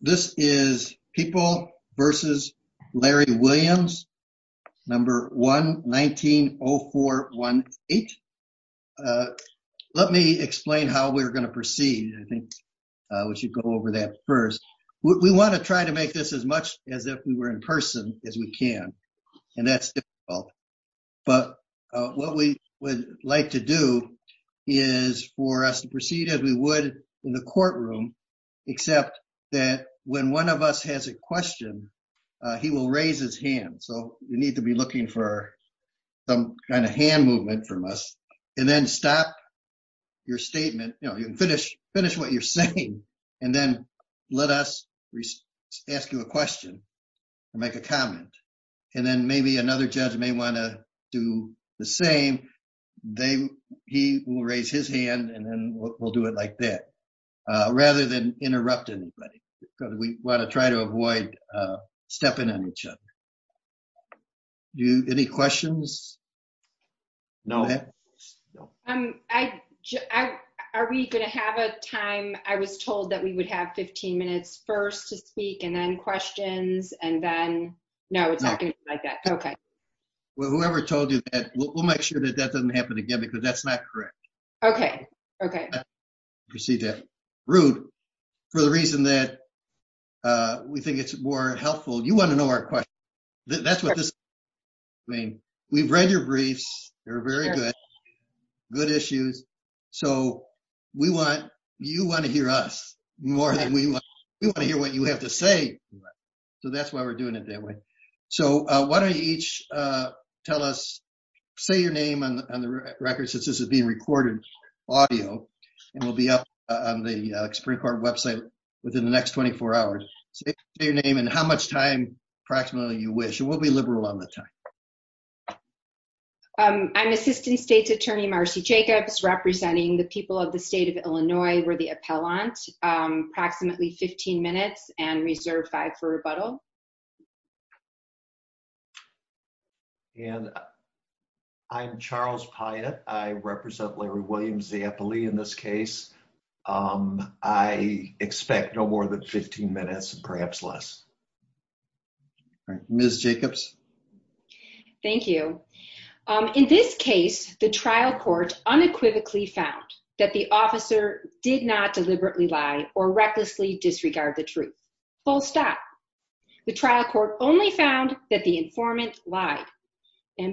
This is People v. Larry Williams, No. 1-19-0418. Let me explain how we're going to proceed. I think we should go over that first. We want to try to make this as much as if we were in person as we can, and that's difficult. But what we would like to do is for us to proceed as we would in the courtroom, except that when one of us has a question, he will raise his hand. So you need to be looking for some kind of hand movement from us, and then stop your statement, you know, finish what you're saying, and then let us ask you a question and make a comment. And then maybe another judge may want to do the same. He will raise his hand, and then we'll do it like that, rather than interrupt anybody. We want to try to avoid stepping on each other. Any questions? No. Are we going to have a time? I was told that we would have 15 minutes first to speak and then questions, and then no, it's not going to be like that. Okay. Whoever told you that, we'll make sure that that doesn't happen again, because that's not correct. Okay. Okay. Rude. For the reason that we think it's more helpful, you want to know our question. That's what this means. We've read your briefs. They're very good. Good issues. So you want to hear us more than we want to hear what you have to say. So that's why we're doing it that way. So why don't you each tell us, say your name on the record since this is being recorded audio, and we'll be up on the Supreme Court website within the next 24 hours. Say your name and how much time, approximately, you wish. And we'll be liberal on the time. I'm Assistant State's Attorney Marcy Jacobs, representing the people of the state of Illinois. We're the appellant. Approximately 15 minutes and reserve five for rebuttal. And I'm Charles Piatt. I represent Larry Williams, the appellee in this case. I expect no more than 15 minutes, perhaps less. Ms. Jacobs? Thank you. In this case, the trial court unequivocally found that the officer did not deliberately lie or recklessly disregard the truth. Full stop. The trial court only found that the informant lied.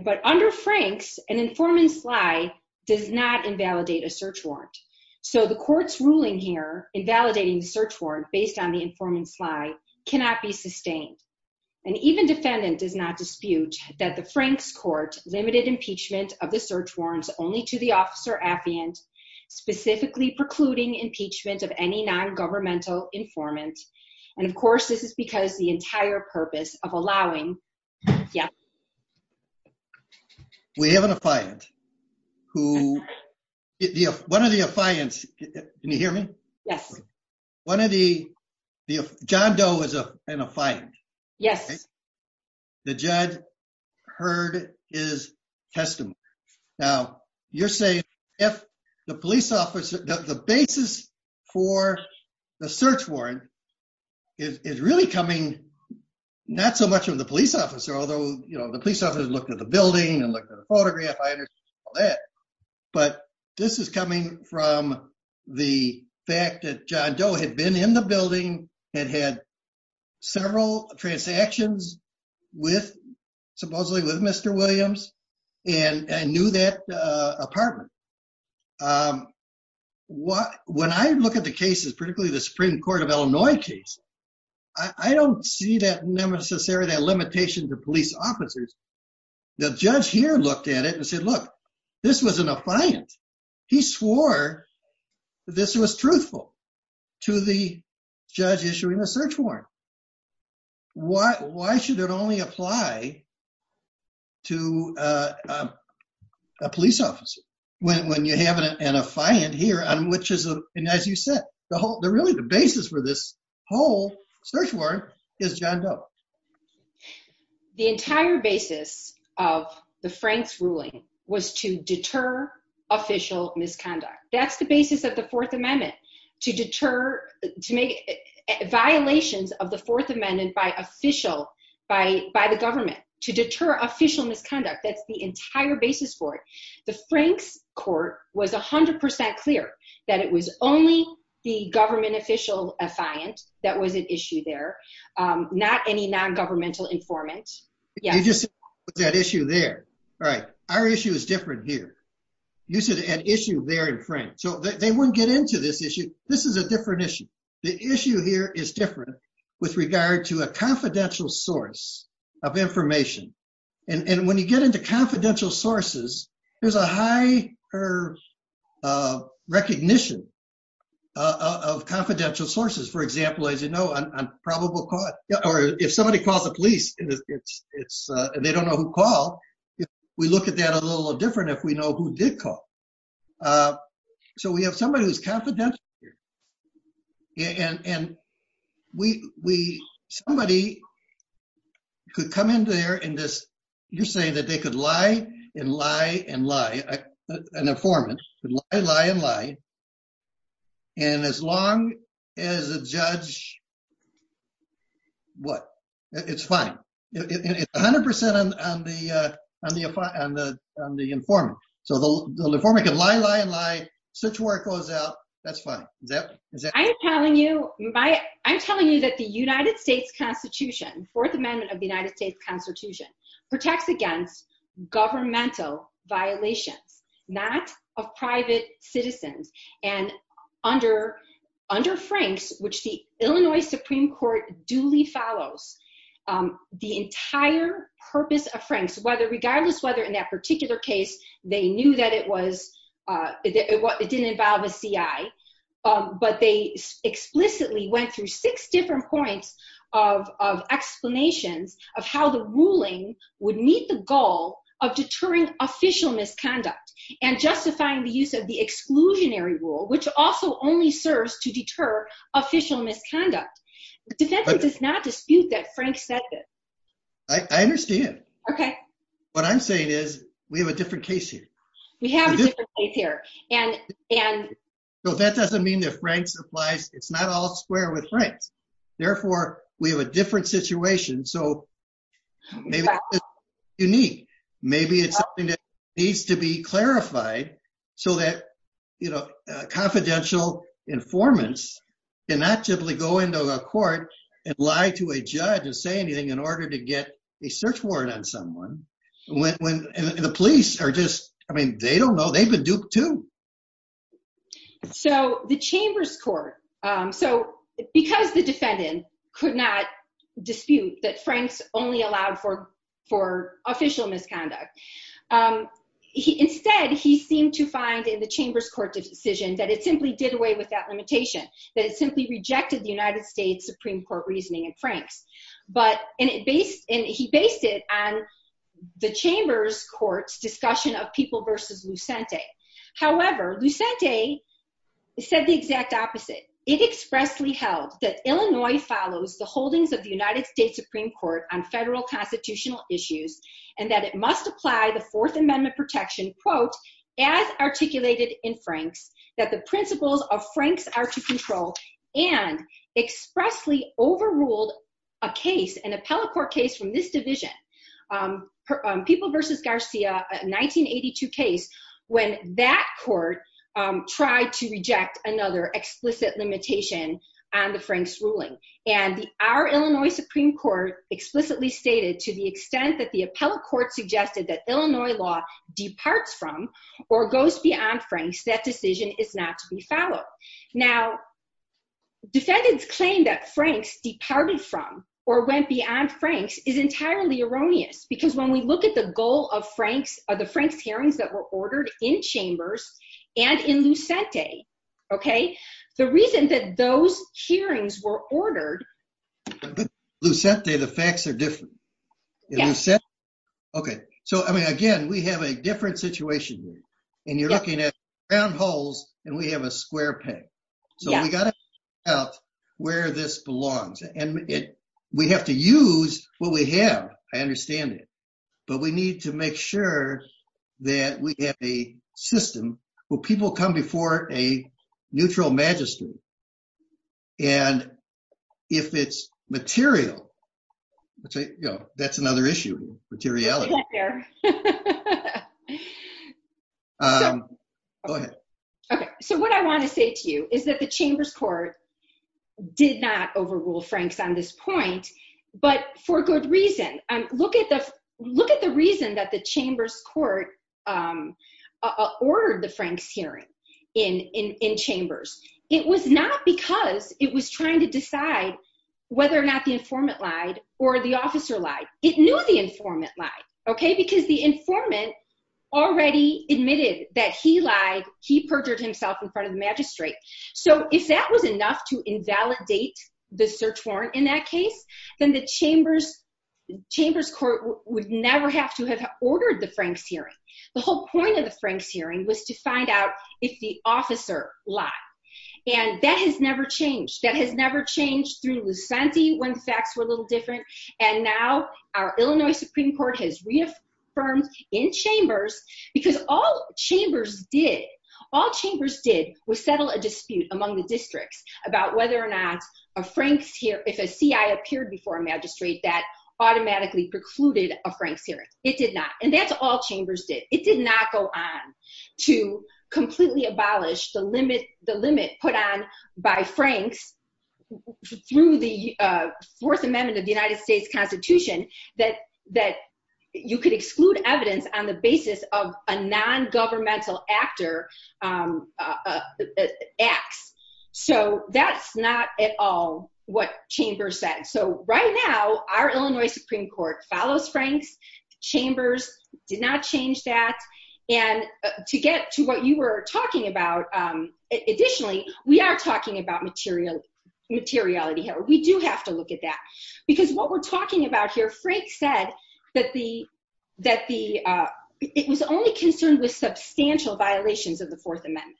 But under Franks, an informant's lie does not invalidate a search warrant. So the court's ruling here, invalidating the search warrant based on the informant's lie, cannot be sustained. And even defendant does not dispute that the Franks court limited impeachment of the search warrants only to the officer affiant, specifically precluding impeachment of any non-governmental informant. And, of course, this is because the entire purpose of allowing... Yeah. We have an affiant who... One of the affiants... Can you hear me? Yes. One of the... John Doe is an affiant. Yes. The judge heard his testimony. Now, you're saying if the police officer... The basis for the search warrant is really coming not so much from the police officer, although, you know, the police officer looked at the building and looked at the photograph. I understand all that. But this is coming from the fact that John Doe had been in the building, had had several transactions with, supposedly with Mr. Williams, and knew that apartment. When I look at the cases, particularly the Supreme Court of Illinois case, I don't see that limitation to police officers. The judge here looked at it and said, look, this was an affiant. He swore that this was truthful to the judge issuing the search warrant. Why should it only apply to a police officer when you have an affiant here on which is, as you said, the whole... Really, the basis for this whole search warrant is John Doe. The entire basis of the Franks ruling was to deter official misconduct. That's the basis of the Fourth Amendment, to deter, to make violations of the Fourth Amendment by official, by the government, to deter official misconduct. That's the entire basis for it. The Franks court was 100% clear that it was only the government official affiant that was at issue there, not any non-governmental informant. You just said that issue there. All right. Our issue is different here. You said an issue there in Franks. So they wouldn't get into this issue. This is a different issue. The issue here is different with regard to a confidential source of information. And when you get into confidential sources, there's a higher recognition of confidential sources. For example, as you know, on probable cause, or if somebody calls the police and they don't know who called, we look at that a little different if we know who did call. So we have somebody who's confidential here. Somebody could come in there and just, you're saying that they could lie and lie and lie, an informant, could lie, lie, and lie, and as long as the judge, what? It's fine. It's 100% on the informant. So the informant can lie, lie, and lie. Search warrant goes out. That's fine. I'm telling you that the United States Constitution, Fourth Amendment of the United States Constitution, protects against governmental violations, not of private citizens. And under Franks, which the Illinois Supreme Court duly follows, the entire purpose of Franks, regardless whether in that particular case they knew that it didn't involve a CI, but they explicitly went through six different points of explanations of how the ruling would meet the goal of deterring official misconduct and justifying the use of the exclusionary rule, which also only serves to deter official misconduct. The defense does not dispute that Franks said this. I understand. Okay. What I'm saying is we have a different case here. We have a different case here. So that doesn't mean that Franks applies. It's not all square with Franks. Therefore, we have a different situation. So maybe it's unique. Maybe it's something that needs to be clarified so that, you know, confidential informants cannot simply go into a court and lie to a judge and say anything in order to get a search warrant on someone. And the police are just, I mean, they don't know. They've been duped, too. So the Chambers Court, so because the defendant could not dispute that Franks only allowed for official misconduct, instead, he seemed to find in the Chambers Court decision that it simply did away with that limitation, that it simply rejected the United States Supreme Court reasoning in Franks. And he based it on the Chambers Court's discussion of People v. Lucente. An appellate court case from this division, People v. Garcia, a 1982 case, when that court tried to reject another explicit limitation on the Franks ruling. And our Illinois Supreme Court explicitly stated to the extent that the appellate court suggested that Illinois law departs from or goes beyond Franks, that decision is not to be followed. Now, defendants claim that Franks departed from or went beyond Franks is entirely erroneous. Because when we look at the goal of the Franks hearings that were ordered in Chambers and in Lucente, okay, the reason that those hearings were ordered… Okay. So, I mean, again, we have a different situation here. And you're looking at round holes, and we have a square peg. So we got to figure out where this belongs. And we have to use what we have. I understand it. But we need to make sure that we have a system where people come before a neutral magistrate. And if it's material, you know, that's another issue, materiality. Okay. So what I want to say to you is that the Chambers court did not overrule Franks on this point, but for good reason. Look at the reason that the Chambers court ordered the Franks hearing in Chambers. It was not because it was trying to decide whether or not the informant lied or the officer lied. It knew the informant lied, okay, because the informant already admitted that he lied, he perjured himself in front of the magistrate. So if that was enough to invalidate the search warrant in that case, then the Chambers court would never have to have ordered the Franks hearing. The whole point of the Franks hearing was to find out if the officer lied. And that has never changed. That has never changed through Lucente when facts were a little different. And now our Illinois Supreme Court has reaffirmed in Chambers because all Chambers did, all Chambers did, was settle a dispute among the districts about whether or not a Franks hearing, if a CI appeared before a magistrate, that automatically precluded a Franks hearing. It did not. And that's all Chambers did. It did not go on to completely abolish the limit put on by Franks through the Fourth Amendment of the United States Constitution that you could exclude evidence on the basis of a non-governmental actor, X. So that's not at all what Chambers said. So right now, our Illinois Supreme Court follows Franks. Chambers did not change that. And to get to what you were talking about, additionally, we are talking about material, materiality here. We do have to look at that because what we're talking about here, Franks said that the, that the, it was only concerned with substantial violations of the Fourth Amendment,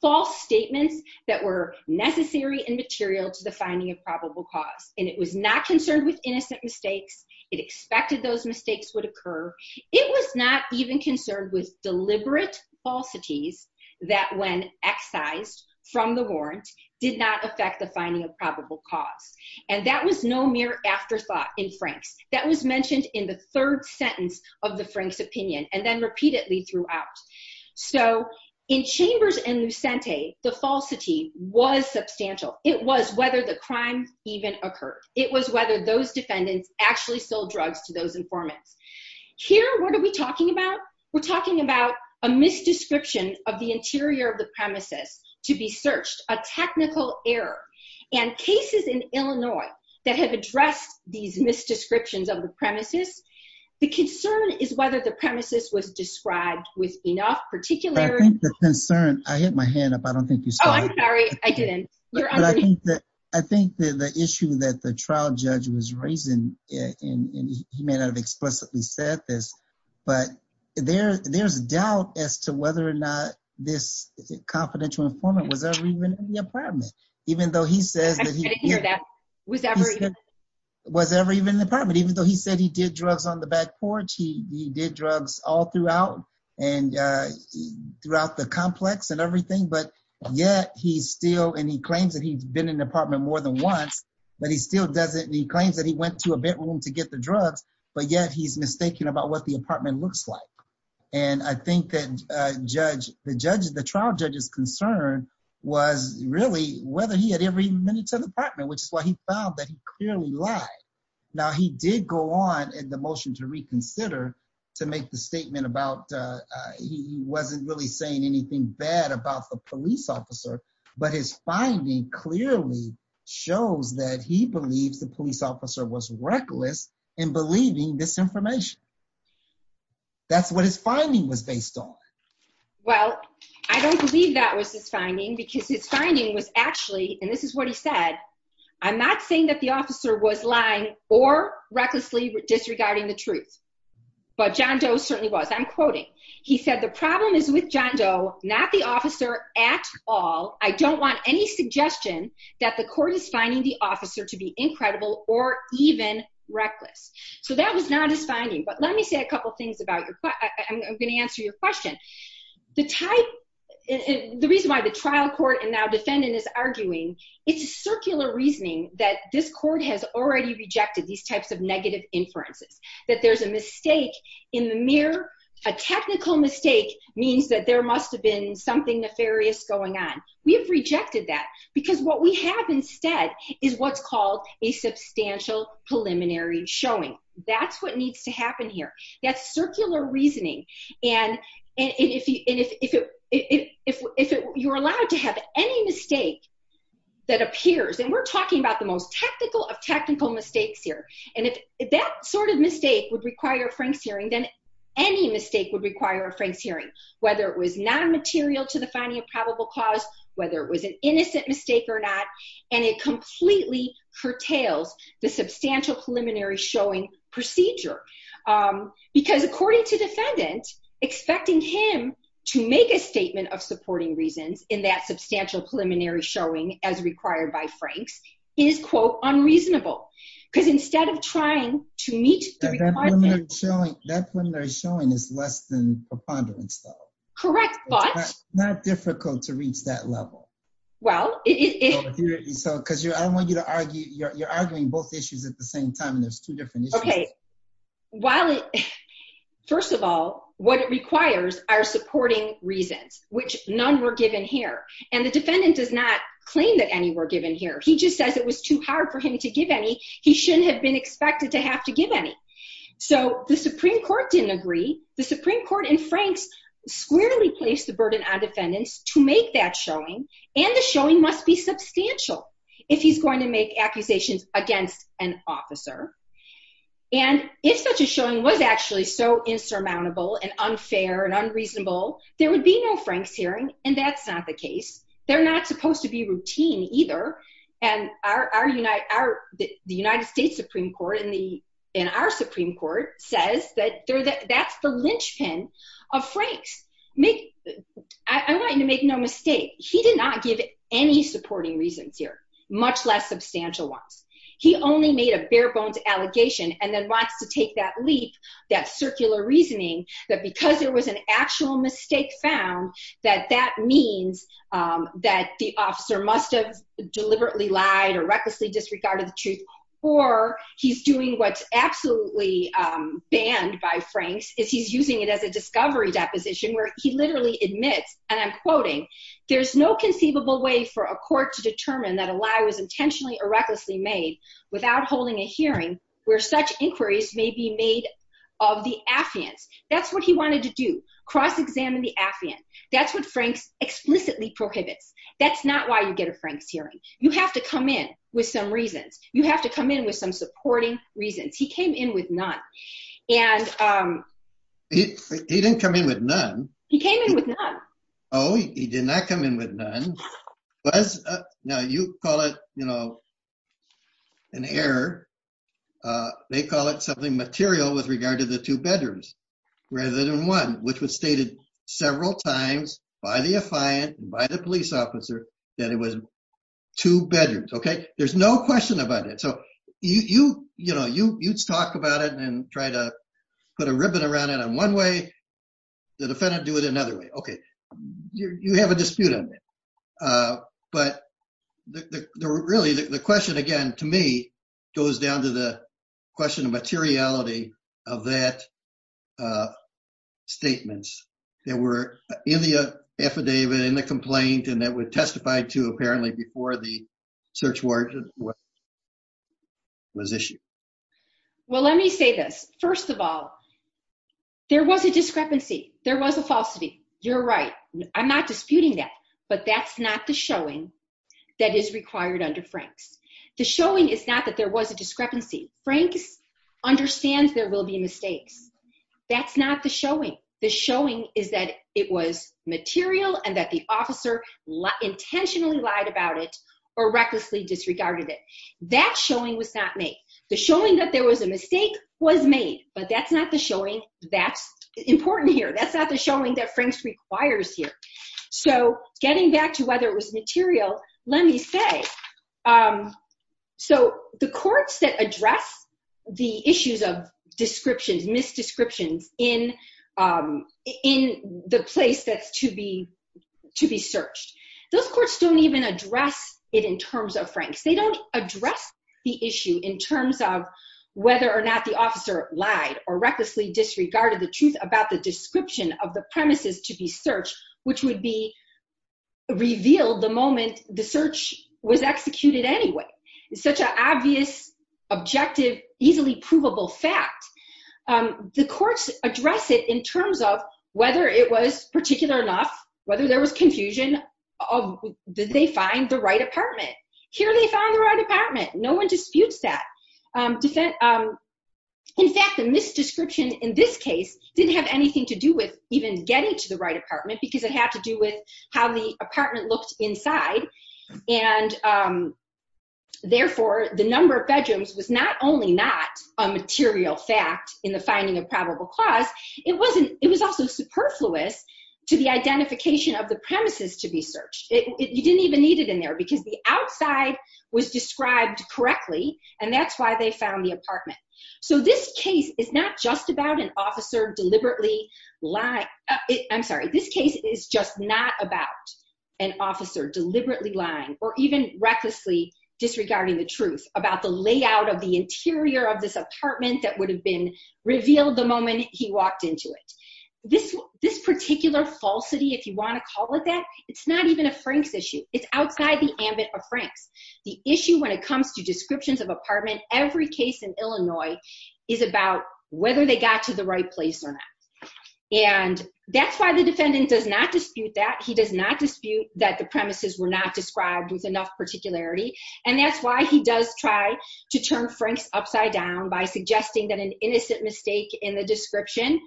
false statements that were necessary and material to the finding of probable cause. And it was not concerned with innocent mistakes. It expected those mistakes would occur. It was not even concerned with deliberate falsities that when excised from the warrant did not affect the finding of probable cause. And that was no mere afterthought in Franks. That was mentioned in the third sentence of the Franks opinion and then repeatedly throughout. So in Chambers and Lucente, the falsity was substantial. It was whether the crime even occurred. It was whether those defendants actually sold drugs to those informants. Here, what are we talking about? We're talking about a misdescription of the interior of the premises to be searched, a technical error. And cases in Illinois that have addressed these misdescriptions of the premises, the concern is whether the premises was described with enough particulars. I think the concern, I hit my hand up. I don't think you saw it. Oh, I'm sorry. I didn't. I think that the issue that the trial judge was raising, and he may not have explicitly said this, but there's doubt as to whether or not this confidential informant was ever even in the apartment, I didn't hear that. Was ever even? Was ever even in the apartment, even though he said he did drugs on the back porch, he did drugs all throughout and throughout the complex and everything. But yet he still, and he claims that he's been in the apartment more than once, but he still doesn't, he claims that he went to a bedroom to get the drugs, but yet he's mistaken about what the apartment looks like. And I think that the trial judge's concern was really whether he had ever even been into the apartment, which is why he found that he clearly lied. Now, he did go on in the motion to reconsider to make the statement about, he wasn't really saying anything bad about the police officer, but his finding clearly shows that he believes the police officer was reckless in believing this information. That's what his finding was based on. Well, I don't believe that was his finding because his finding was actually, and this is what he said, I'm not saying that the officer was lying or recklessly disregarding the truth, but John Doe certainly was. I'm quoting, he said, the problem is with John Doe, not the officer at all. I don't want any suggestion that the court is finding the officer to be incredible or even reckless. So that was not his finding. But let me say a couple of things about your, I'm going to answer your question. The type, the reason why the trial court and now defendant is arguing, it's a circular reasoning that this court has already rejected these types of negative inferences, that there's a mistake in the mirror. A technical mistake means that there must have been something nefarious going on. We have rejected that because what we have instead is what's called a substantial preliminary showing. That's what needs to happen here. That's circular reasoning. And if you're allowed to have any mistake that appears, and we're talking about the most technical of technical mistakes here. And if that sort of mistake would require a Frank's hearing, then any mistake would require a Frank's hearing, whether it was non-material to the finding of probable cause, whether it was an innocent mistake or not. And it completely curtails the substantial preliminary showing procedure. Because according to defendant, expecting him to make a statement of supporting reasons in that substantial preliminary showing, as required by Frank's, is quote, unreasonable. Because instead of trying to meet the requirements. That preliminary showing is less than preponderance, though. Correct, but? It's not difficult to reach that level. Well, it is. Because I don't want you to argue. You're arguing both issues at the same time, and there's two different issues. Okay. First of all, what it requires are supporting reasons, which none were given here. And the defendant does not claim that any were given here. He just says it was too hard for him to give any. He shouldn't have been expected to have to give any. So the Supreme Court didn't agree. The Supreme Court and Frank's squarely placed the burden on defendants to make that showing. And the showing must be substantial if he's going to make accusations against an officer. And if such a showing was actually so insurmountable and unfair and unreasonable, there would be no Frank's hearing. And that's not the case. They're not supposed to be routine either. And the United States Supreme Court in our Supreme Court says that that's the linchpin of Frank's. I want you to make no mistake. He did not give any supporting reasons here, much less substantial ones. He only made a bare-bones allegation and then wants to take that leap, that circular reasoning, that because there was an actual mistake found, that that means that the officer must have deliberately lied or recklessly disregarded the truth. Or he's doing what's absolutely banned by Frank's, is he's using it as a discovery deposition where he literally admits, and I'm quoting, there's no conceivable way for a court to determine that a lie was intentionally or recklessly made without holding a hearing where such inquiries may be made of the affiant. That's what he wanted to do, cross-examine the affiant. That's what Frank's explicitly prohibits. That's not why you get a Frank's hearing. You have to come in with some reasons. You have to come in with some supporting reasons. He came in with none. And... He didn't come in with none. He came in with none. Oh, he did not come in with none. Now, you call it, you know, an error. They call it something material with regard to the two bedrooms rather than one, which was stated several times by the affiant, by the police officer, that it was two bedrooms, okay? There's no question about it. So you, you know, you talk about it and try to put a ribbon around it in one way. The defendant do it another way. Okay. You have a dispute on that. But really the question, again, to me, goes down to the question of materiality of that statements that were in the affidavit, in the complaint, and that were testified to apparently before the search warrant was issued. Well, let me say this. First of all, there was a discrepancy. There was a falsity. You're right. I'm not disputing that. But that's not the showing that is required under Franks. The showing is not that there was a discrepancy. Franks understands there will be mistakes. That's not the showing. The showing is that it was material and that the officer intentionally lied about it or recklessly disregarded it. That showing was not made. The showing that there was a mistake was made, but that's not the showing that's important here. That's not the showing that Franks requires here. So getting back to whether it was material, let me say, so the courts that address the issues of descriptions, misdescriptions in the place that's to be searched, those courts don't even address it in terms of Franks. They don't address the issue in terms of whether or not the officer lied or recklessly disregarded the truth about the description of the premises to be searched, which would be revealed the moment the search was executed anyway. It's such an obvious, objective, easily provable fact. The courts address it in terms of whether it was particular enough, whether there was confusion of did they find the right apartment. Here they found the right apartment. No one disputes that. In fact, the misdescription in this case didn't have anything to do with even getting to the right apartment because it had to do with how the apartment looked inside. And therefore, the number of bedrooms was not only not a material fact in the finding of probable cause, it was also superfluous to the identification of the premises to be searched. You didn't even need it in there because the outside was described correctly, and that's why they found the apartment. So this case is not just about an officer deliberately lying. I'm sorry, this case is just not about an officer deliberately lying or even recklessly disregarding the truth about the layout of the interior of this apartment that would have been revealed the moment he walked into it. This particular falsity, if you want to call it that, it's not even a Frank's issue. It's outside the ambit of Frank's. The issue when it comes to descriptions of apartment, every case in Illinois is about whether they got to the right place or not. And that's why the defendant does not dispute that. He does not dispute that the premises were not described with enough particularity. And that's why he does try to turn Frank's upside down by suggesting that an innocent mistake in the description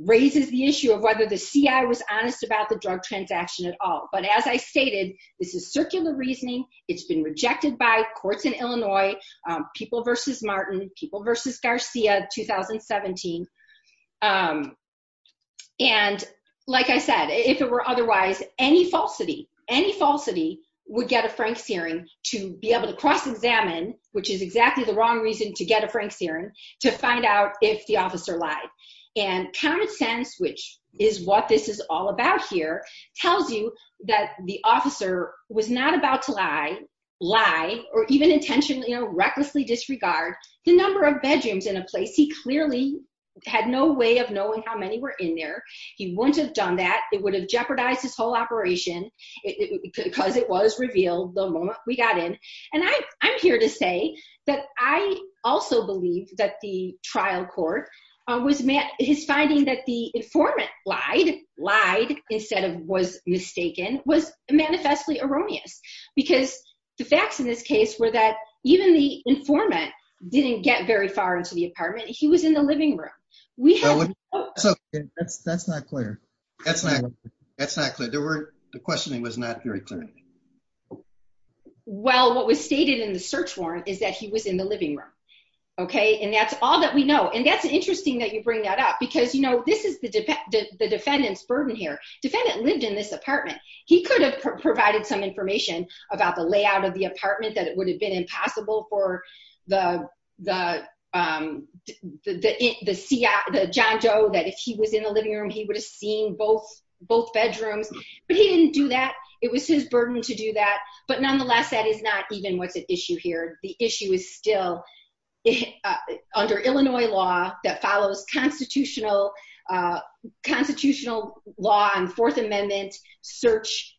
raises the issue of whether the CI was honest about the drug transaction at all. But as I stated, this is circular reasoning. It's been rejected by courts in Illinois, People v. Martin, People v. Garcia, 2017. And like I said, if it were otherwise, any falsity, any falsity would get a Frank's hearing to be able to cross-examine, which is exactly the wrong reason to get a Frank's hearing, to find out if the officer lied. And common sense, which is what this is all about here, tells you that the officer was not about to lie or even intentionally or recklessly disregard the number of bedrooms in a place. He clearly had no way of knowing how many were in there. He wouldn't have done that. It would have jeopardized his whole operation because it was revealed the moment we got in. And I'm here to say that I also believe that the trial court, his finding that the informant lied, lied instead of was mistaken, was manifestly erroneous. Because the facts in this case were that even the informant didn't get very far into the apartment. He was in the living room. That's not clear. That's not clear. The questioning was not very clear. Well, what was stated in the search warrant is that he was in the living room. Okay? And that's all that we know. And that's interesting that you bring that up because, you know, this is the defendant's burden here. Defendant lived in this apartment. He could have provided some information about the layout of the apartment that it would have been impossible for the John Doe that if he was in the living room, he would have seen both bedrooms. But he didn't do that. It was his burden to do that. But, nonetheless, that is not even what's at issue here. The issue is still under Illinois law that follows constitutional law and Fourth Amendment search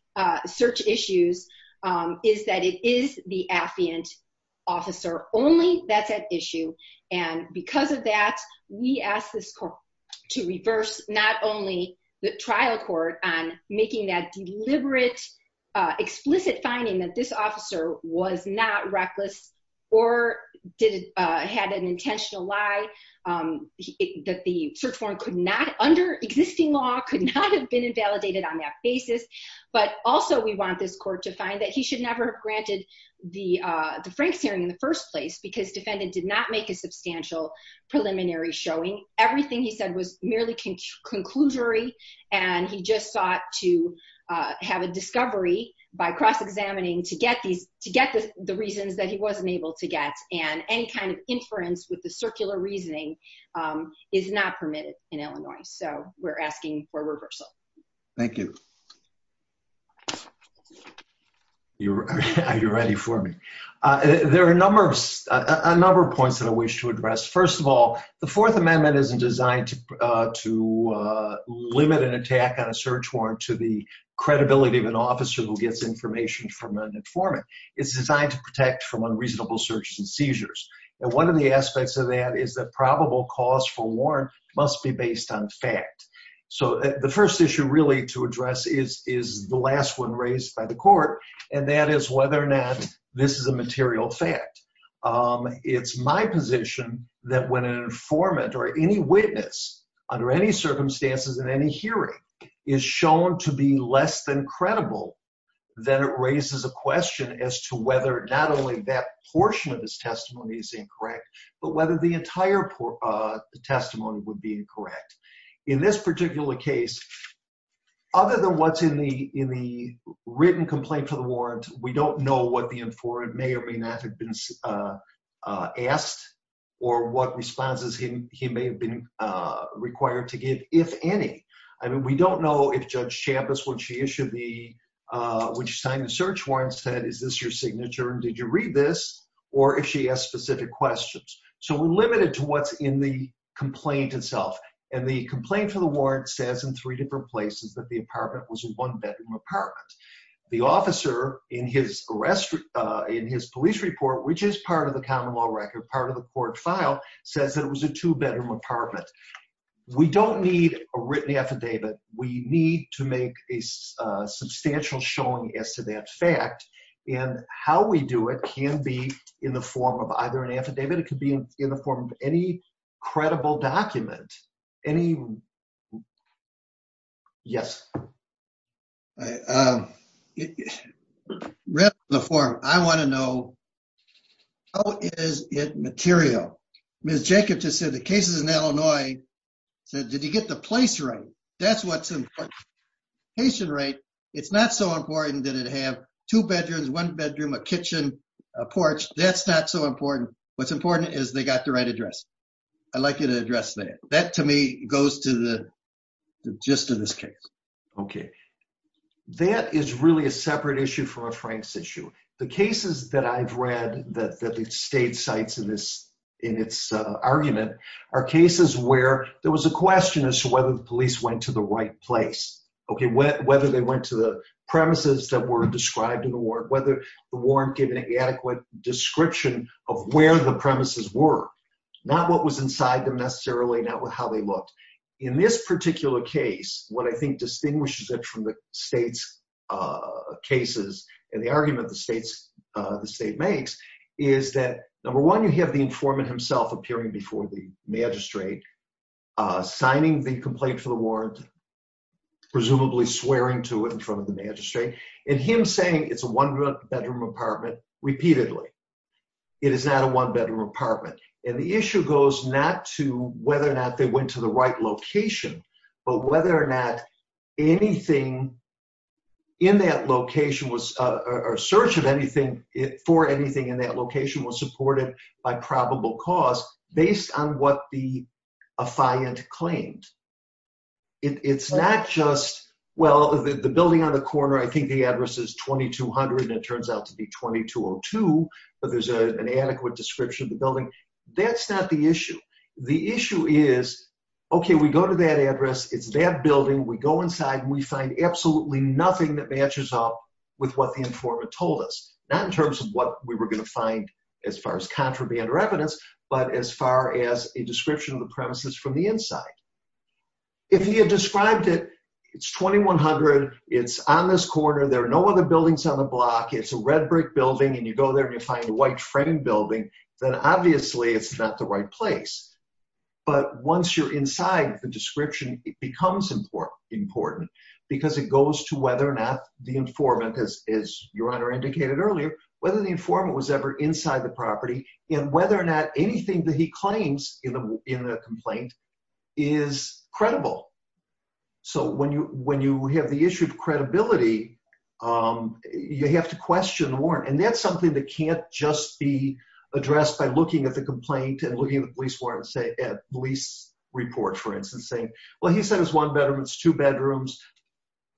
issues is that it is the affiant officer only that's at issue. And because of that, we ask this court to reverse not only the trial court on making that deliberate, explicit finding that this officer was not reckless or had an intentional lie, that the search warrant could not, under existing law, could not have been invalidated on that basis. But also we want this court to find that he should never have granted the Franks hearing in the first place because defendant did not make a substantial preliminary showing. Everything he said was merely conclusory. And he just sought to have a discovery by cross-examining to get the reasons that he wasn't able to get. And any kind of inference with the circular reasoning is not permitted in Illinois. So we're asking for reversal. Thank you. Are you ready for me? There are a number of points that I wish to address. First of all, the Fourth Amendment isn't designed to limit an attack on a search warrant to the credibility of an officer who gets information from an informant. It's designed to protect from unreasonable searches and seizures. And one of the aspects of that is that probable cause for warrant must be based on fact. So the first issue really to address is the last one raised by the court, and that is whether or not this is a material fact. It's my position that when an informant or any witness under any circumstances in any hearing is shown to be less than credible, then it raises a question as to whether not only that portion of his testimony is incorrect, but whether the entire testimony would be incorrect. In this particular case, other than what's in the written complaint for the warrant, we don't know what the informant may or may not have been asked or what responses he may have been required to give, if any. I mean, we don't know if Judge Chavez, when she signed the search warrant, said, is this your signature and did you read this, or if she asked specific questions. So we're limited to what's in the complaint itself. And the complaint for the warrant says in three different places that the apartment was a one-bedroom apartment. The officer in his police report, which is part of the common law record, part of the court file, says that it was a two-bedroom apartment. We don't need a written affidavit. We need to make a substantial showing as to that fact. And how we do it can be in the form of either an affidavit. It could be in the form of any credible document. Any ‑‑ yes. Yes. I want to know how is it material? Ms. Jacobs just said the case is in Illinois. Did you get the place right? That's what's important. It's not so important that it have two bedrooms, one bedroom, a kitchen, a porch. That's not so important. What's important is they got the right address. I'd like you to address that. That, to me, goes to the gist of this case. Okay. That is really a separate issue from a Frank's issue. The cases that I've read that the state cites in its argument are cases where there was a question as to whether the police went to the right place. Okay, whether they went to the premises that were described in the warrant, whether the warrant gave an adequate description of where the premises were. Not what was inside them necessarily, not how they looked. In this particular case, what I think distinguishes it from the state's cases and the argument the state makes is that, number one, you have the informant himself appearing before the magistrate, signing the complaint for the warrant, presumably swearing to it in front of the magistrate, and him saying it's a one‑bedroom apartment repeatedly. It is not a one‑bedroom apartment. And the issue goes not to whether or not they went to the right location, but whether or not anything in that location was ‑‑ or search of anything for anything in that location was supported by probable cause based on what the affiant claimed. It's not just, well, the building on the corner, I think the address is 2200, and it turns out to be 2202, but there's an adequate description of the building. That's not the issue. The issue is, okay, we go to that address, it's that building, we go inside, and we find absolutely nothing that matches up with what the informant told us. Not in terms of what we were going to find as far as contraband or evidence, but as far as a description of the premises from the inside. If he had described it, it's 2100, it's on this corner, there are no other buildings on the block, it's a red brick building, and you go there and you find a white frame building, then obviously it's not the right place. But once you're inside the description, it becomes important, because it goes to whether or not the informant, as your Honor indicated earlier, whether the informant was ever inside the property, and whether or not anything that he claims in the complaint is credible. So when you have the issue of credibility, you have to question the warrant. And that's something that can't just be addressed by looking at the complaint and looking at the police report, for instance, saying, well, he said it was one bedroom, it's two bedrooms,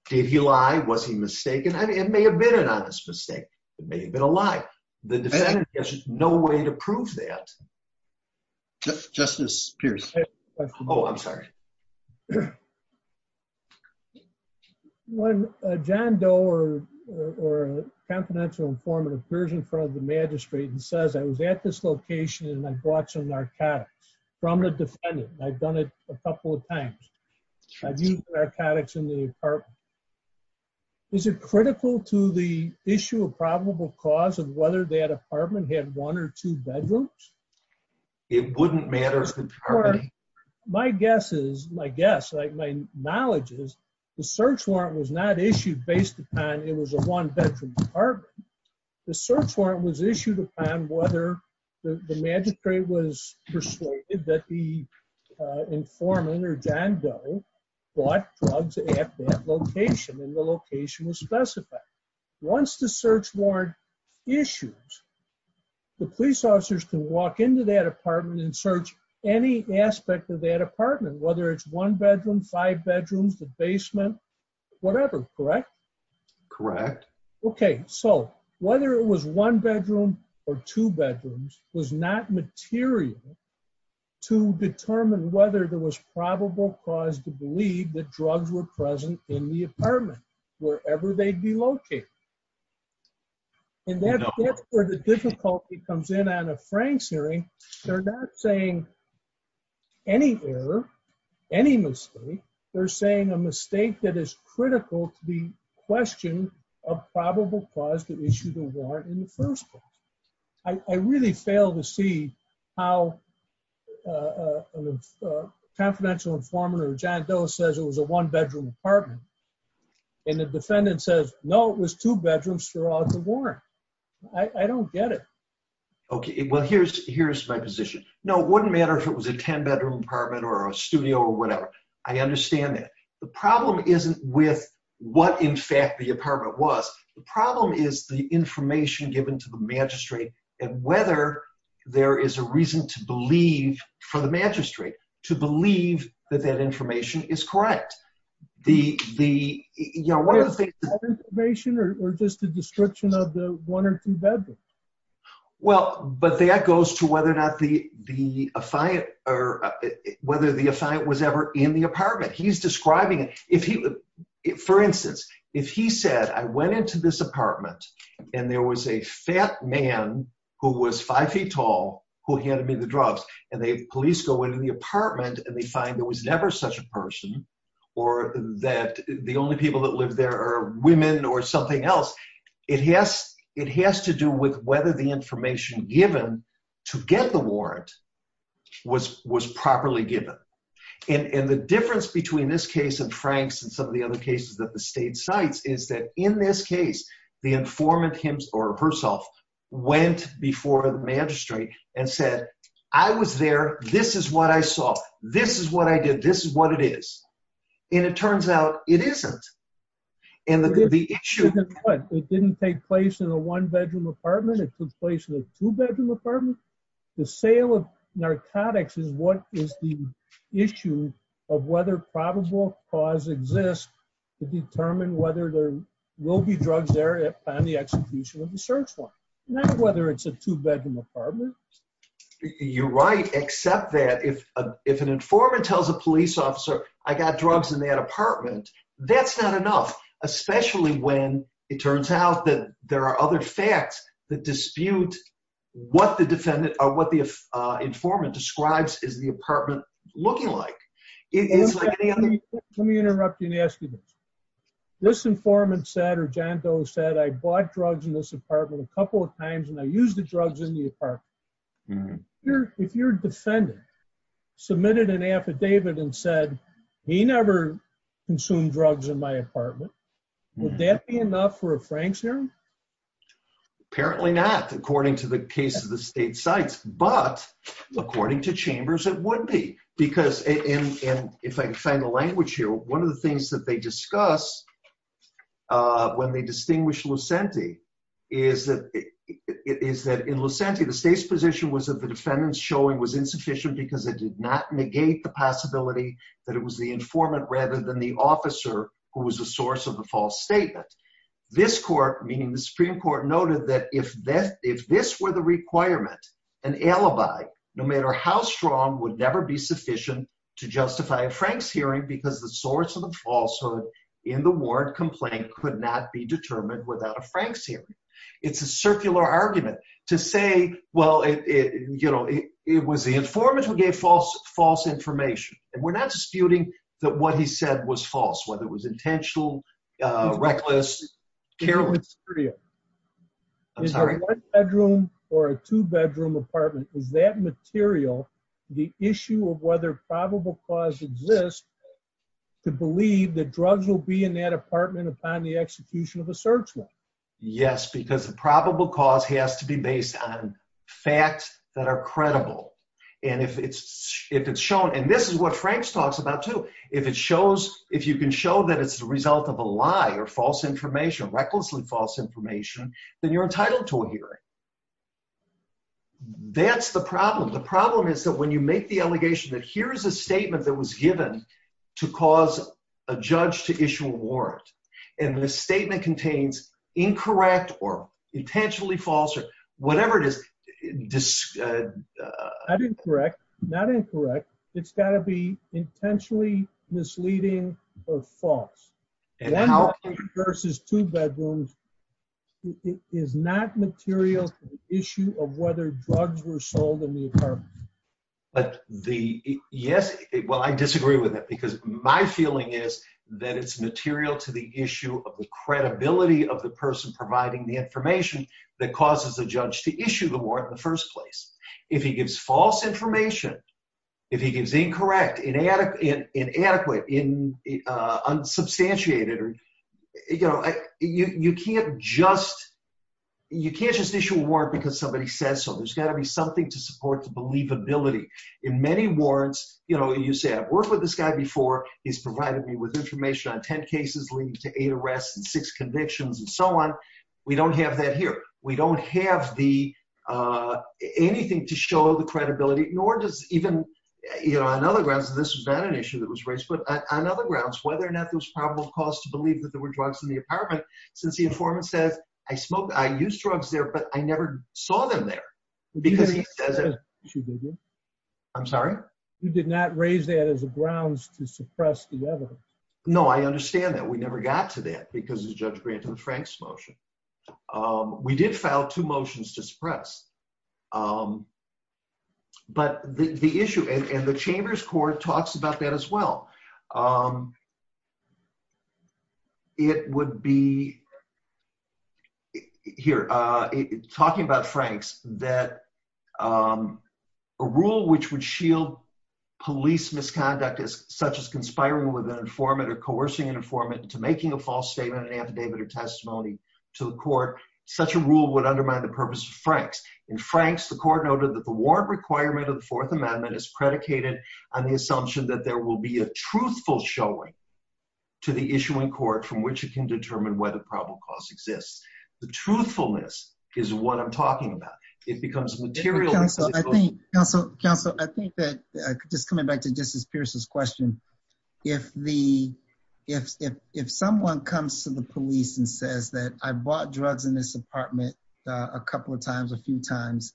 did he lie, was he mistaken? It may have been an honest mistake. It may have been a lie. The defendant has no way to prove that. Justice Pierce. Oh, I'm sorry. When John Doe or confidential informant appears in front of the magistrate and says, I was at this location and I brought some narcotics from the defendant, I've done it a couple of times. I've used narcotics in the apartment. Is it critical to the issue of probable cause of whether that apartment had one or two bedrooms? It wouldn't matter as the property. My guess is, my guess, my knowledge is the search warrant was not issued based upon it was a one bedroom apartment. The search warrant was issued upon whether the magistrate was persuaded that the informant or John Doe brought drugs at that location and the location was specified. Once the search warrant issues, the police officers can walk into that apartment and search any aspect of that apartment, whether it's one bedroom, five bedrooms, the basement, whatever. Correct. Okay, so whether it was one bedroom or two bedrooms was not material to determine whether there was probable cause to believe that drugs were present in the apartment, wherever they'd be located. And that's where the difficulty comes in on a Frank's hearing. They're not saying any error, any mistake. They're saying a mistake that is critical to the question of probable cause to issue the warrant in the first place. I really fail to see how a confidential informant or John Doe says it was a one bedroom apartment. And the defendant says, no, it was two bedrooms throughout the warrant. I don't get it. Okay, well, here's my position. No, it wouldn't matter if it was a 10 bedroom apartment or a studio or whatever. I understand that. The problem isn't with what, in fact, the apartment was. The problem is the information given to the magistrate and whether there is a reason to believe for the magistrate to believe that that information is correct. Is that information or just a description of the one or two bedrooms? Well, but that goes to whether or not the affiant was ever in the apartment. He's describing it. For instance, if he said, I went into this apartment and there was a fat man who was five feet tall who handed me the drugs and they police go into the apartment and they find there was never such a person or that the only people that live there are women or something else. It has it has to do with whether the information given to get the warrant was was properly given. And the difference between this case and Frank's and some of the other cases that the state sites is that in this case, the informant him or herself went before the magistrate and said, I was there. This is what I saw. This is what I did. This is what it is. And it turns out it isn't. It didn't take place in a one bedroom apartment. It took place in a two bedroom apartment. The sale of narcotics is what is the issue of whether probable cause exists to determine whether there will be drugs there on the execution of the search warrant. Not whether it's a two bedroom apartment. You're right, except that if if an informant tells a police officer, I got drugs in that apartment, that's not enough, especially when it turns out that there are other facts that dispute what the defendant or what the informant describes is the apartment looking like. Let me interrupt you and ask you this. This informant said or John Doe said I bought drugs in this apartment a couple of times and I use the drugs in the apartment. If your defendant submitted an affidavit and said he never consumed drugs in my apartment, would that be enough for a Frank's hearing? Apparently not. According to the case of the state sites. But according to chambers, it would be. Because if I can find the language here, one of the things that they discuss when they distinguish Lucente is that it is that in Lucente, the state's position was that the defendants showing was insufficient because it did not negate the possibility that it was the informant rather than the officer who was the source of the false statement. This court, meaning the Supreme Court, noted that if that if this were the requirement, an alibi, no matter how strong, would never be sufficient to justify a Frank's hearing because the source of the falsehood in the warrant complaint could not be determined without a Frank's hearing. It's a circular argument to say, well, you know, it was the informant who gave false false information. And we're not disputing that what he said was false, whether it was intentional, reckless, careless. I'm sorry, bedroom or a two bedroom apartment. Is that material the issue of whether probable cause exists to believe that drugs will be in that apartment upon the execution of a search warrant? Yes, because the probable cause has to be based on facts that are credible. And if it's if it's shown and this is what Frank's talks about, too, if it shows if you can show that it's the result of a lie or false information, recklessly false information, then you're entitled to a hearing. That's the problem. The problem is that when you make the allegation that here is a statement that was given to cause a judge to issue a warrant and the statement contains incorrect or intentionally false or whatever it is. I didn't correct. Not incorrect. It's got to be intentionally misleading or false versus two bedrooms. It is not material issue of whether drugs were sold in the apartment. Yes. Well, I disagree with it because my feeling is that it's material to the issue of the credibility of the person providing the information that causes a judge to issue the warrant in the first place. If he gives false information, if he gives incorrect, inadequate, inadequate, unsubstantiated, you know, you can't just you can't just issue a warrant because somebody says so. There's got to be something to support the believability in many warrants. You know, you said I've worked with this guy before. He's provided me with information on 10 cases leading to eight arrests and six convictions and so on. We don't have that here. We don't have the anything to show the credibility, nor does even, you know, on other grounds, this is not an issue that was raised. But on other grounds, whether or not there was probable cause to believe that there were drugs in the apartment, since the informant says I smoked, I used drugs there, but I never saw them there because he says it. I'm sorry. You did not raise that as a grounds to suppress the evidence. No, I understand that we never got to that because of Judge Grant and Frank's motion. We did file two motions to suppress. But the issue and the Chambers Court talks about that as well. It would be Here, talking about Frank's that a rule which would shield police misconduct is such as conspiring with an informant or coercing an informant to making a false statement, an affidavit or testimony to the court. Such a rule would undermine the purpose of Frank's. In Frank's, the court noted that the warrant requirement of the Fourth Amendment is predicated on the assumption that there will be a truthful showing to the issuing court from which it can determine whether probable cause exists. The truthfulness is what I'm talking about. It becomes material. Counselor, I think that just coming back to Justice Pierce's question. If someone comes to the police and says that I bought drugs in this apartment a couple of times, a few times,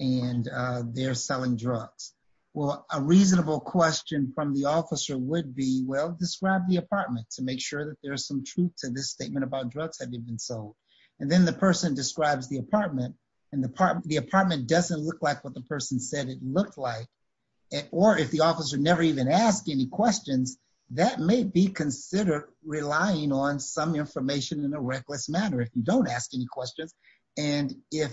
and they're selling drugs. Well, a reasonable question from the officer would be, well, describe the apartment to make sure that there's some truth to this statement about drugs having been sold. And then the person describes the apartment and the apartment doesn't look like what the person said it looked like. Or if the officer never even asked any questions, that may be considered relying on some information in a reckless manner if you don't ask any questions. And if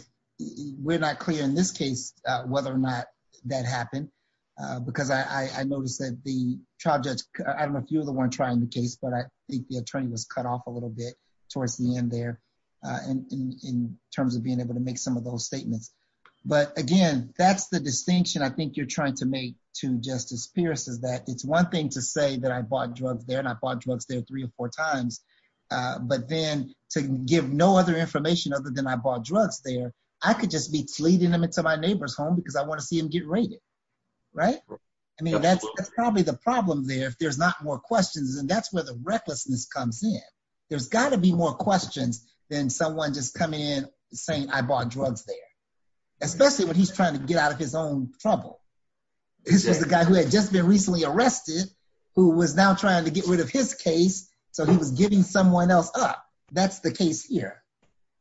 we're not clear in this case whether or not that happened, because I noticed that the trial judge, I don't know if you were the one trying the case, but I think the attorney was cut off a little bit towards the end there. In terms of being able to make some of those statements. But again, that's the distinction I think you're trying to make to Justice Pierce is that it's one thing to say that I bought drugs there and I bought drugs there three or four times. But then to give no other information other than I bought drugs there, I could just be leading them into my neighbor's home because I want to see him get raided. Right? I mean, that's probably the problem there if there's not more questions. And that's where the recklessness comes in. There's got to be more questions than someone just coming in saying I bought drugs there, especially when he's trying to get out of his own trouble. This was a guy who had just been recently arrested, who was now trying to get rid of his case. So he was giving someone else up. That's the case here.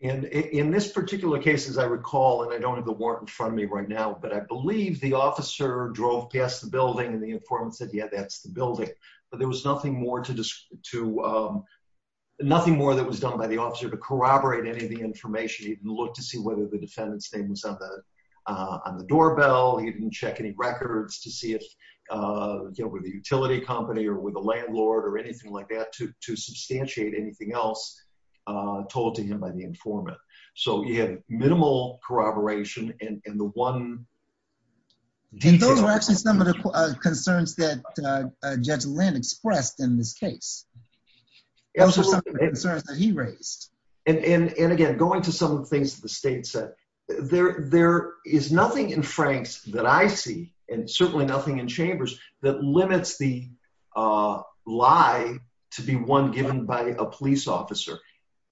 And in this particular case, as I recall, and I don't have the warrant in front of me right now, but I believe the officer drove past the building and the informant said, yeah, that's the building. But there was nothing more that was done by the officer to corroborate any of the information. He didn't look to see whether the defendant's name was on the doorbell. He didn't check any records to see if it was a utility company or with a landlord or anything like that to substantiate anything else told to him by the informant. So he had minimal corroboration and the one... And those were actually some of the concerns that Judge Lynn expressed in this case. Those were some of the concerns that he raised. And again, going to some of the things that the state said, there is nothing in Franks that I see, and certainly nothing in Chambers, that limits the lie to be one given by a police officer.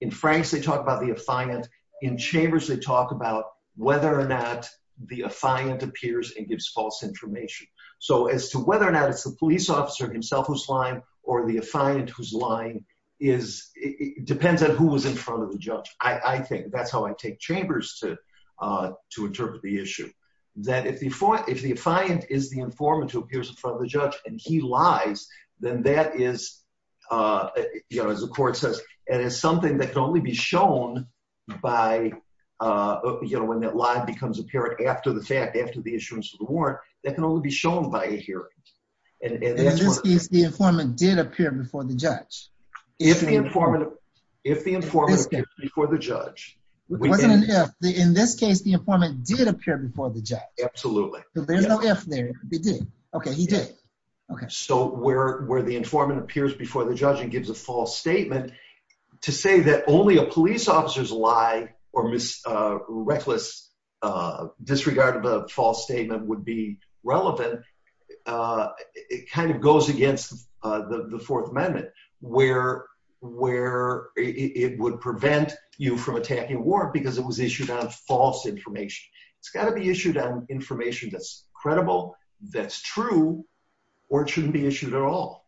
In Franks, they talk about the affiant. In Chambers, they talk about whether or not the affiant appears and gives false information. So as to whether or not it's the police officer himself who's lying or the affiant who's lying depends on who was in front of the judge. I think that's how I take Chambers to interpret the issue. That if the affiant is the informant who appears in front of the judge and he lies, then that is, as the court says, it is something that can only be shown by... When that lie becomes apparent after the fact, after the assurance of the warrant, that can only be shown by a hearing. And in this case, the informant did appear before the judge. If the informant appears before the judge... It wasn't an if. In this case, the informant did appear before the judge. Absolutely. There's no if there. He did. Okay, he did. So where the informant appears before the judge and gives a false statement, to say that only a police officer's lie or reckless disregard of a false statement would be relevant, it kind of goes against the Fourth Amendment, where it would prevent you from attacking a warrant because it was issued on false information. It's got to be issued on information that's credible, that's true, or it shouldn't be issued at all.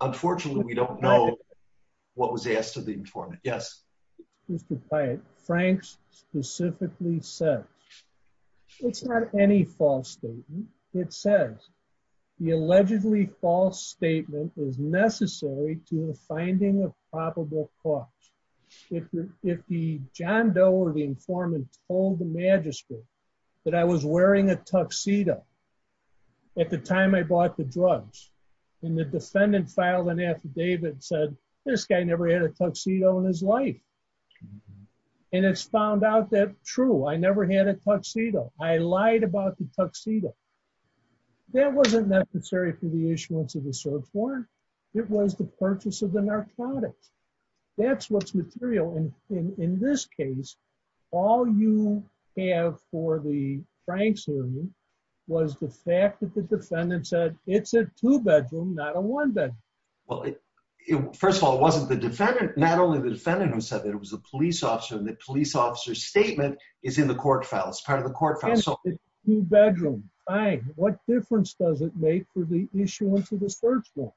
Unfortunately, we don't know what was asked of the informant. Yes. Mr. Pyatt, Franks specifically said, it's not any false statement. It says, the allegedly false statement is necessary to the finding of probable cause. If the John Doe or the informant told the magistrate that I was wearing a tuxedo at the time I bought the drugs, and the defendant filed an affidavit and said, this guy never had a tuxedo in his life. And it's found out that, true, I never had a tuxedo. I lied about the tuxedo. That wasn't necessary for the issuance of the search warrant. It was the purchase of the narcotics. That's what's material. And in this case, all you have for the Franks hearing was the fact that the defendant said, it's a two-bedroom, not a one-bedroom. Well, first of all, it wasn't the defendant. Not only the defendant who said it, it was the police officer. And the police officer's statement is in the court file. It's part of the court file. What difference does it make for the issuance of the search warrant?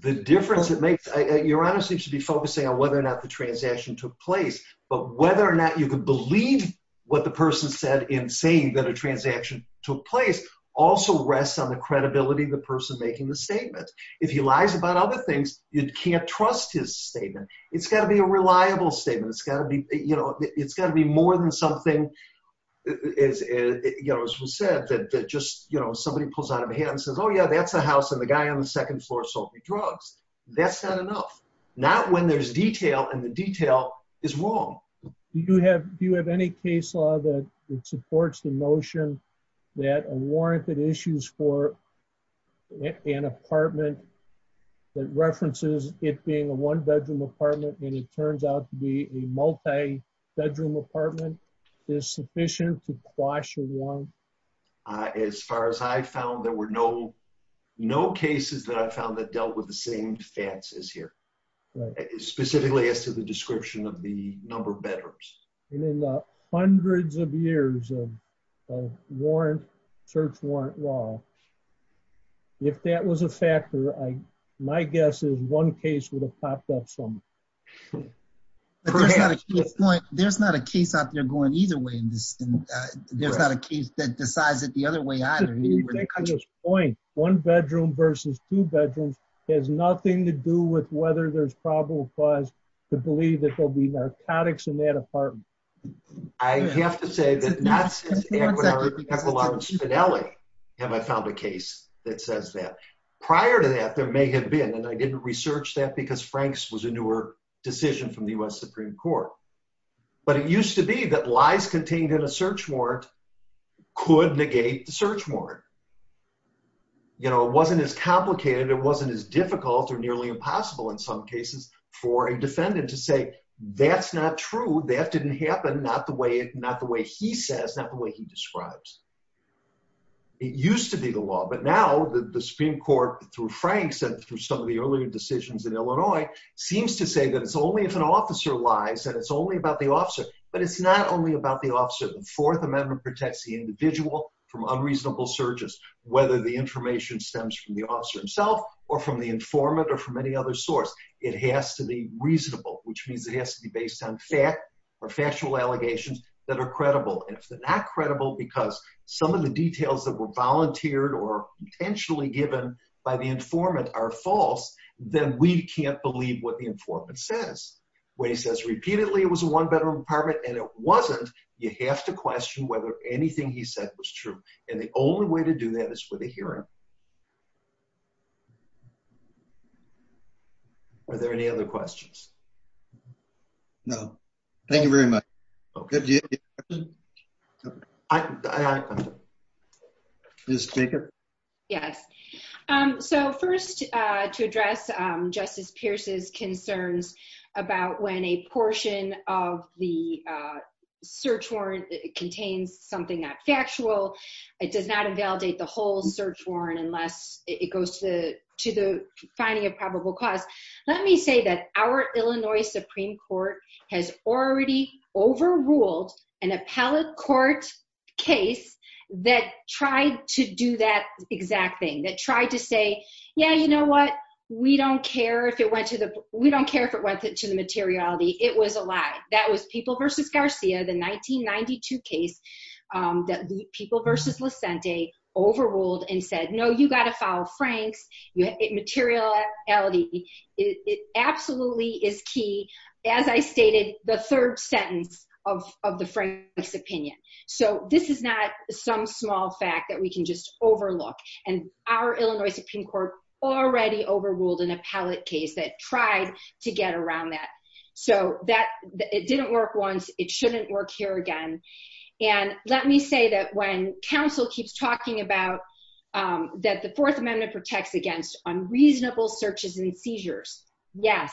The difference it makes, Your Honor, seems to be focusing on whether or not the transaction took place. But whether or not you can believe what the person said in saying that a transaction took place also rests on the credibility of the person making the statement. If he lies about other things, you can't trust his statement. It's got to be a reliable statement. It's got to be, you know, it's got to be more than something, you know, as was said, that just, you know, somebody pulls out of hand and says, oh, yeah, that's a house and the guy on the second floor sold me drugs. That's not enough. Not when there's detail and the detail is wrong. Do you have any case law that supports the notion that a warrant that issues for an apartment that references it being a one bedroom apartment and it turns out to be a multi bedroom apartment is sufficient to quash a warrant? As far as I found, there were no, no cases that I found that dealt with the same facts as here, specifically as to the description of the number of bedrooms. And in the hundreds of years of warrant, search warrant law, if that was a factor, my guess is one case would have popped up somewhere. There's not a case out there going either way in this. There's not a case that decides it the other way either. One bedroom versus two bedrooms has nothing to do with whether there's probable cause to believe that there'll be narcotics in that apartment. I have to say that not since the equinox finale have I found a case that says that. Prior to that, there may have been and I didn't research that because Frank's was a newer decision from the US Supreme Court. But it used to be that lies contained in a search warrant could negate the search warrant. You know, it wasn't as complicated. It wasn't as difficult or nearly impossible in some cases for a defendant to say, that's not true. That didn't happen. Not the way, not the way he says, not the way he describes. It used to be the law, but now the Supreme Court through Frank said through some of the earlier decisions in Illinois seems to say that it's only if an officer lies and it's only about the officer. But it's not only about the officer. The Fourth Amendment protects the individual from unreasonable searches, whether the information stems from the officer himself or from the informant or from any other source. It has to be reasonable, which means it has to be based on fact or factual allegations that are credible. If they're not credible because some of the details that were volunteered or intentionally given by the informant are false, then we can't believe what the informant says. When he says repeatedly it was a one-bedroom apartment and it wasn't, you have to question whether anything he said was true. And the only way to do that is with a hearing. Are there any other questions? No. Thank you very much. Ms. Jacob? Yes. So first, to address Justice Pierce's concerns about when a portion of the search warrant contains something that factual, it does not invalidate the whole search warrant unless it goes to the finding of probable cause. Let me say that our Illinois Supreme Court has already overruled an appellate court case that tried to do that exact thing, that tried to say, yeah, you know what, we don't care if it went to the materiality, it was a lie. That was People v. Garcia, the 1992 case that People v. Licente overruled and said, no, you got to follow Frank's materiality. It absolutely is key, as I stated, the third sentence of the Frank's opinion. So this is not some small fact that we can just overlook. And our Illinois Supreme Court already overruled an appellate case that tried to get around that. So it didn't work once. It shouldn't work here again. And let me say that when counsel keeps talking about that the Fourth Amendment protects against unreasonable searches and seizures, yes,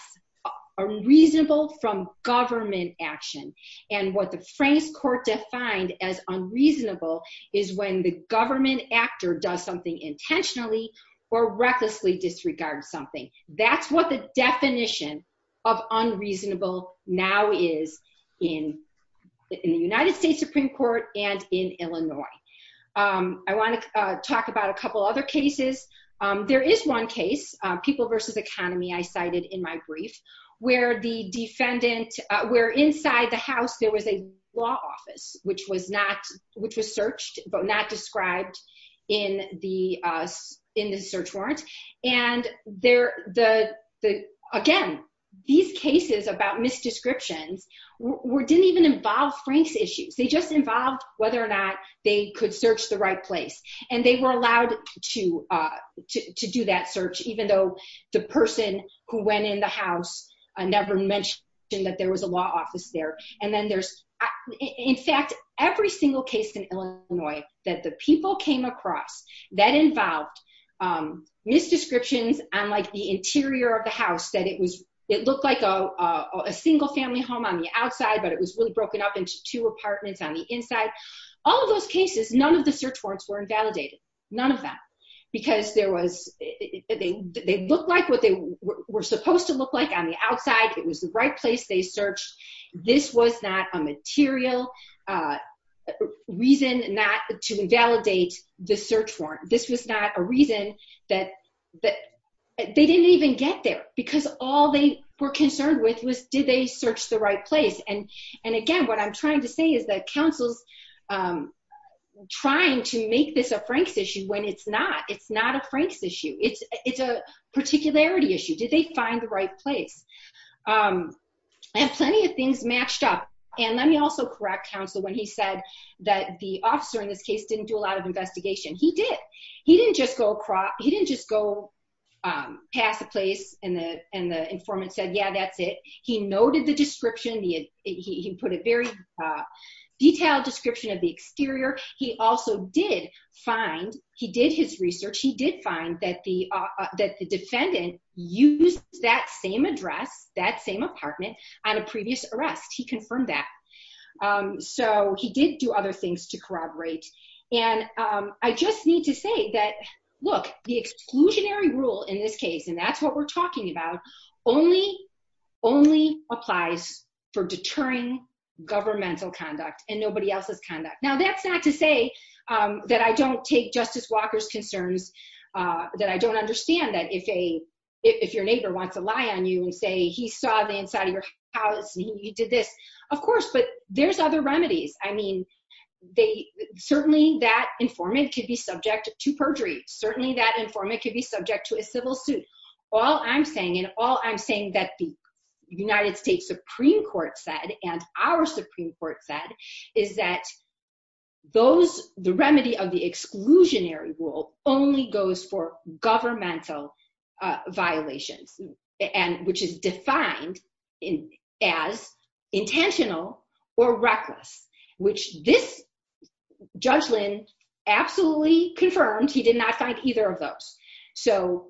unreasonable from government action. And what the Frank's court defined as unreasonable is when the government actor does something intentionally or recklessly disregards something. That's what the definition of unreasonable now is in the United States Supreme Court and in Illinois. I want to talk about a couple other cases. There is one case, People v. Economy, I cited in my brief, where the defendant, where inside the house there was a law office, which was searched but not described in the search warrant. And again, these cases about misdescriptions didn't even involve Frank's issues. They just involved whether or not they could search the right place. And they were allowed to do that search, even though the person who went in the house never mentioned that there was a law office there. And then there's, in fact, every single case in Illinois that the people came across that involved misdescriptions on like the interior of the house, that it looked like a single family home on the outside, but it was really broken up into two apartments on the inside. All of those cases, none of the search warrants were invalidated. None of that. Because they looked like what they were supposed to look like on the outside. It was the right place they searched. This was not a material reason to invalidate the search warrant. This was not a reason that they didn't even get there because all they were concerned with was did they search the right place. And again, what I'm trying to say is that counsel's trying to make this a Frank's issue when it's not. It's not a Frank's issue. It's a particularity issue. Did they find the right place? And plenty of things matched up. And let me also correct counsel when he said that the officer in this case didn't do a lot of investigation. He did. He didn't just go past the place and the informant said, yeah, that's it. He noted the description. He put a very detailed description of the exterior. He also did find he did his research. He did find that the defendant used that same address, that same apartment on a previous arrest. He confirmed that. So he did do other things to corroborate. And I just need to say that, look, the exclusionary rule in this case, and that's what we're talking about, only only applies for deterring governmental conduct and nobody else's conduct. Now, that's not to say that I don't take Justice Walker's concerns, that I don't understand that if a if your neighbor wants to lie on you and say he saw the inside of your house and you did this. Of course. But there's other remedies. I mean, they certainly that informant could be subject to perjury. Certainly that informant could be subject to a civil suit. All I'm saying and all I'm saying that the United States Supreme Court said and our Supreme Court said is that those the remedy of the exclusionary rule only goes for governmental violations. And which is defined in as intentional or reckless, which this judgment absolutely confirmed. He did not find either of those. So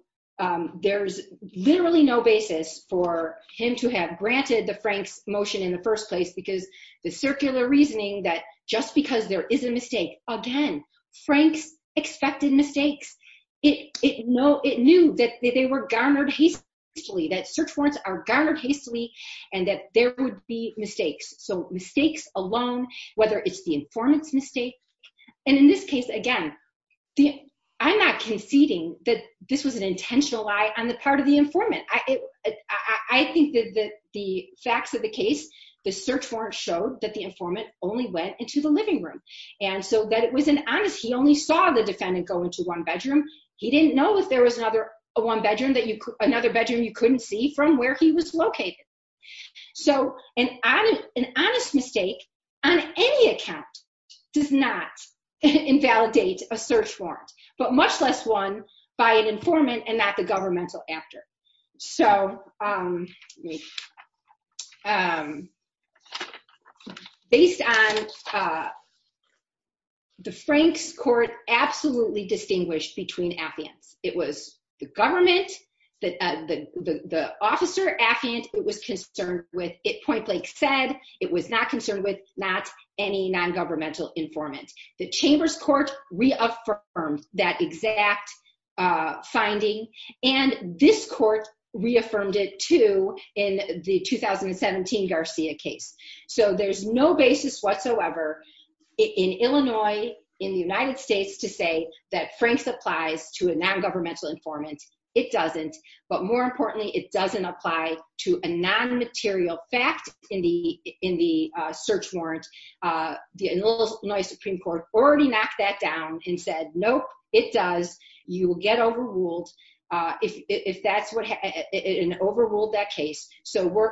there's literally no basis for him to have granted the Franks motion in the first place, because the circular reasoning that just because there is a mistake. Again, Franks expected mistakes it know it knew that they were garnered hastily that search warrants are garnered hastily and that there would be mistakes. So mistakes alone, whether it's the informants mistake. And in this case, again, the I'm not conceding that this was an intentional lie on the part of the informant. I think that the facts of the case, the search warrant showed that the informant only went into the living room. And so that it was an honest he only saw the defendant go into one bedroom. He didn't know if there was another one bedroom that you another bedroom. You couldn't see from where he was located. So, and I'm an honest mistake on any account does not invalidate a search warrant, but much less one by an informant and not the governmental after so Based on The Franks court absolutely distinguished between Athens. It was the government that the officer at hand. It was concerned with it point like said it was not concerned with not any non governmental informant, the chambers court reaffirmed that exact Finding and this court reaffirmed it to in the 2017 Garcia case. So there's no basis whatsoever. In Illinois in the United States to say that Frank's applies to a non governmental informant. It doesn't. But more importantly, it doesn't apply to a non material fact in the in the search warrant. The Supreme Court already knocked that down and said, Nope, it does. You will get overruled if that's what an overruled that case. So we're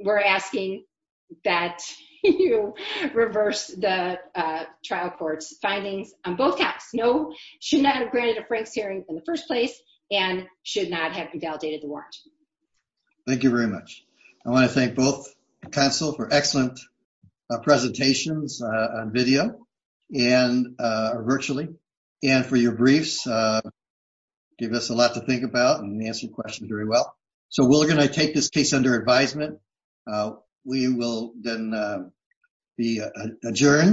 We're asking that you reverse the trial courts findings on both caps. No should not have granted a Frank's hearing in the first place and should not have invalidated the warrant. Thank you very much. I want to thank both console for excellent presentations on video and virtually and for your briefs. Give us a lot to think about and answer questions very well. So we're going to take this case under advisement. We will then be adjourned.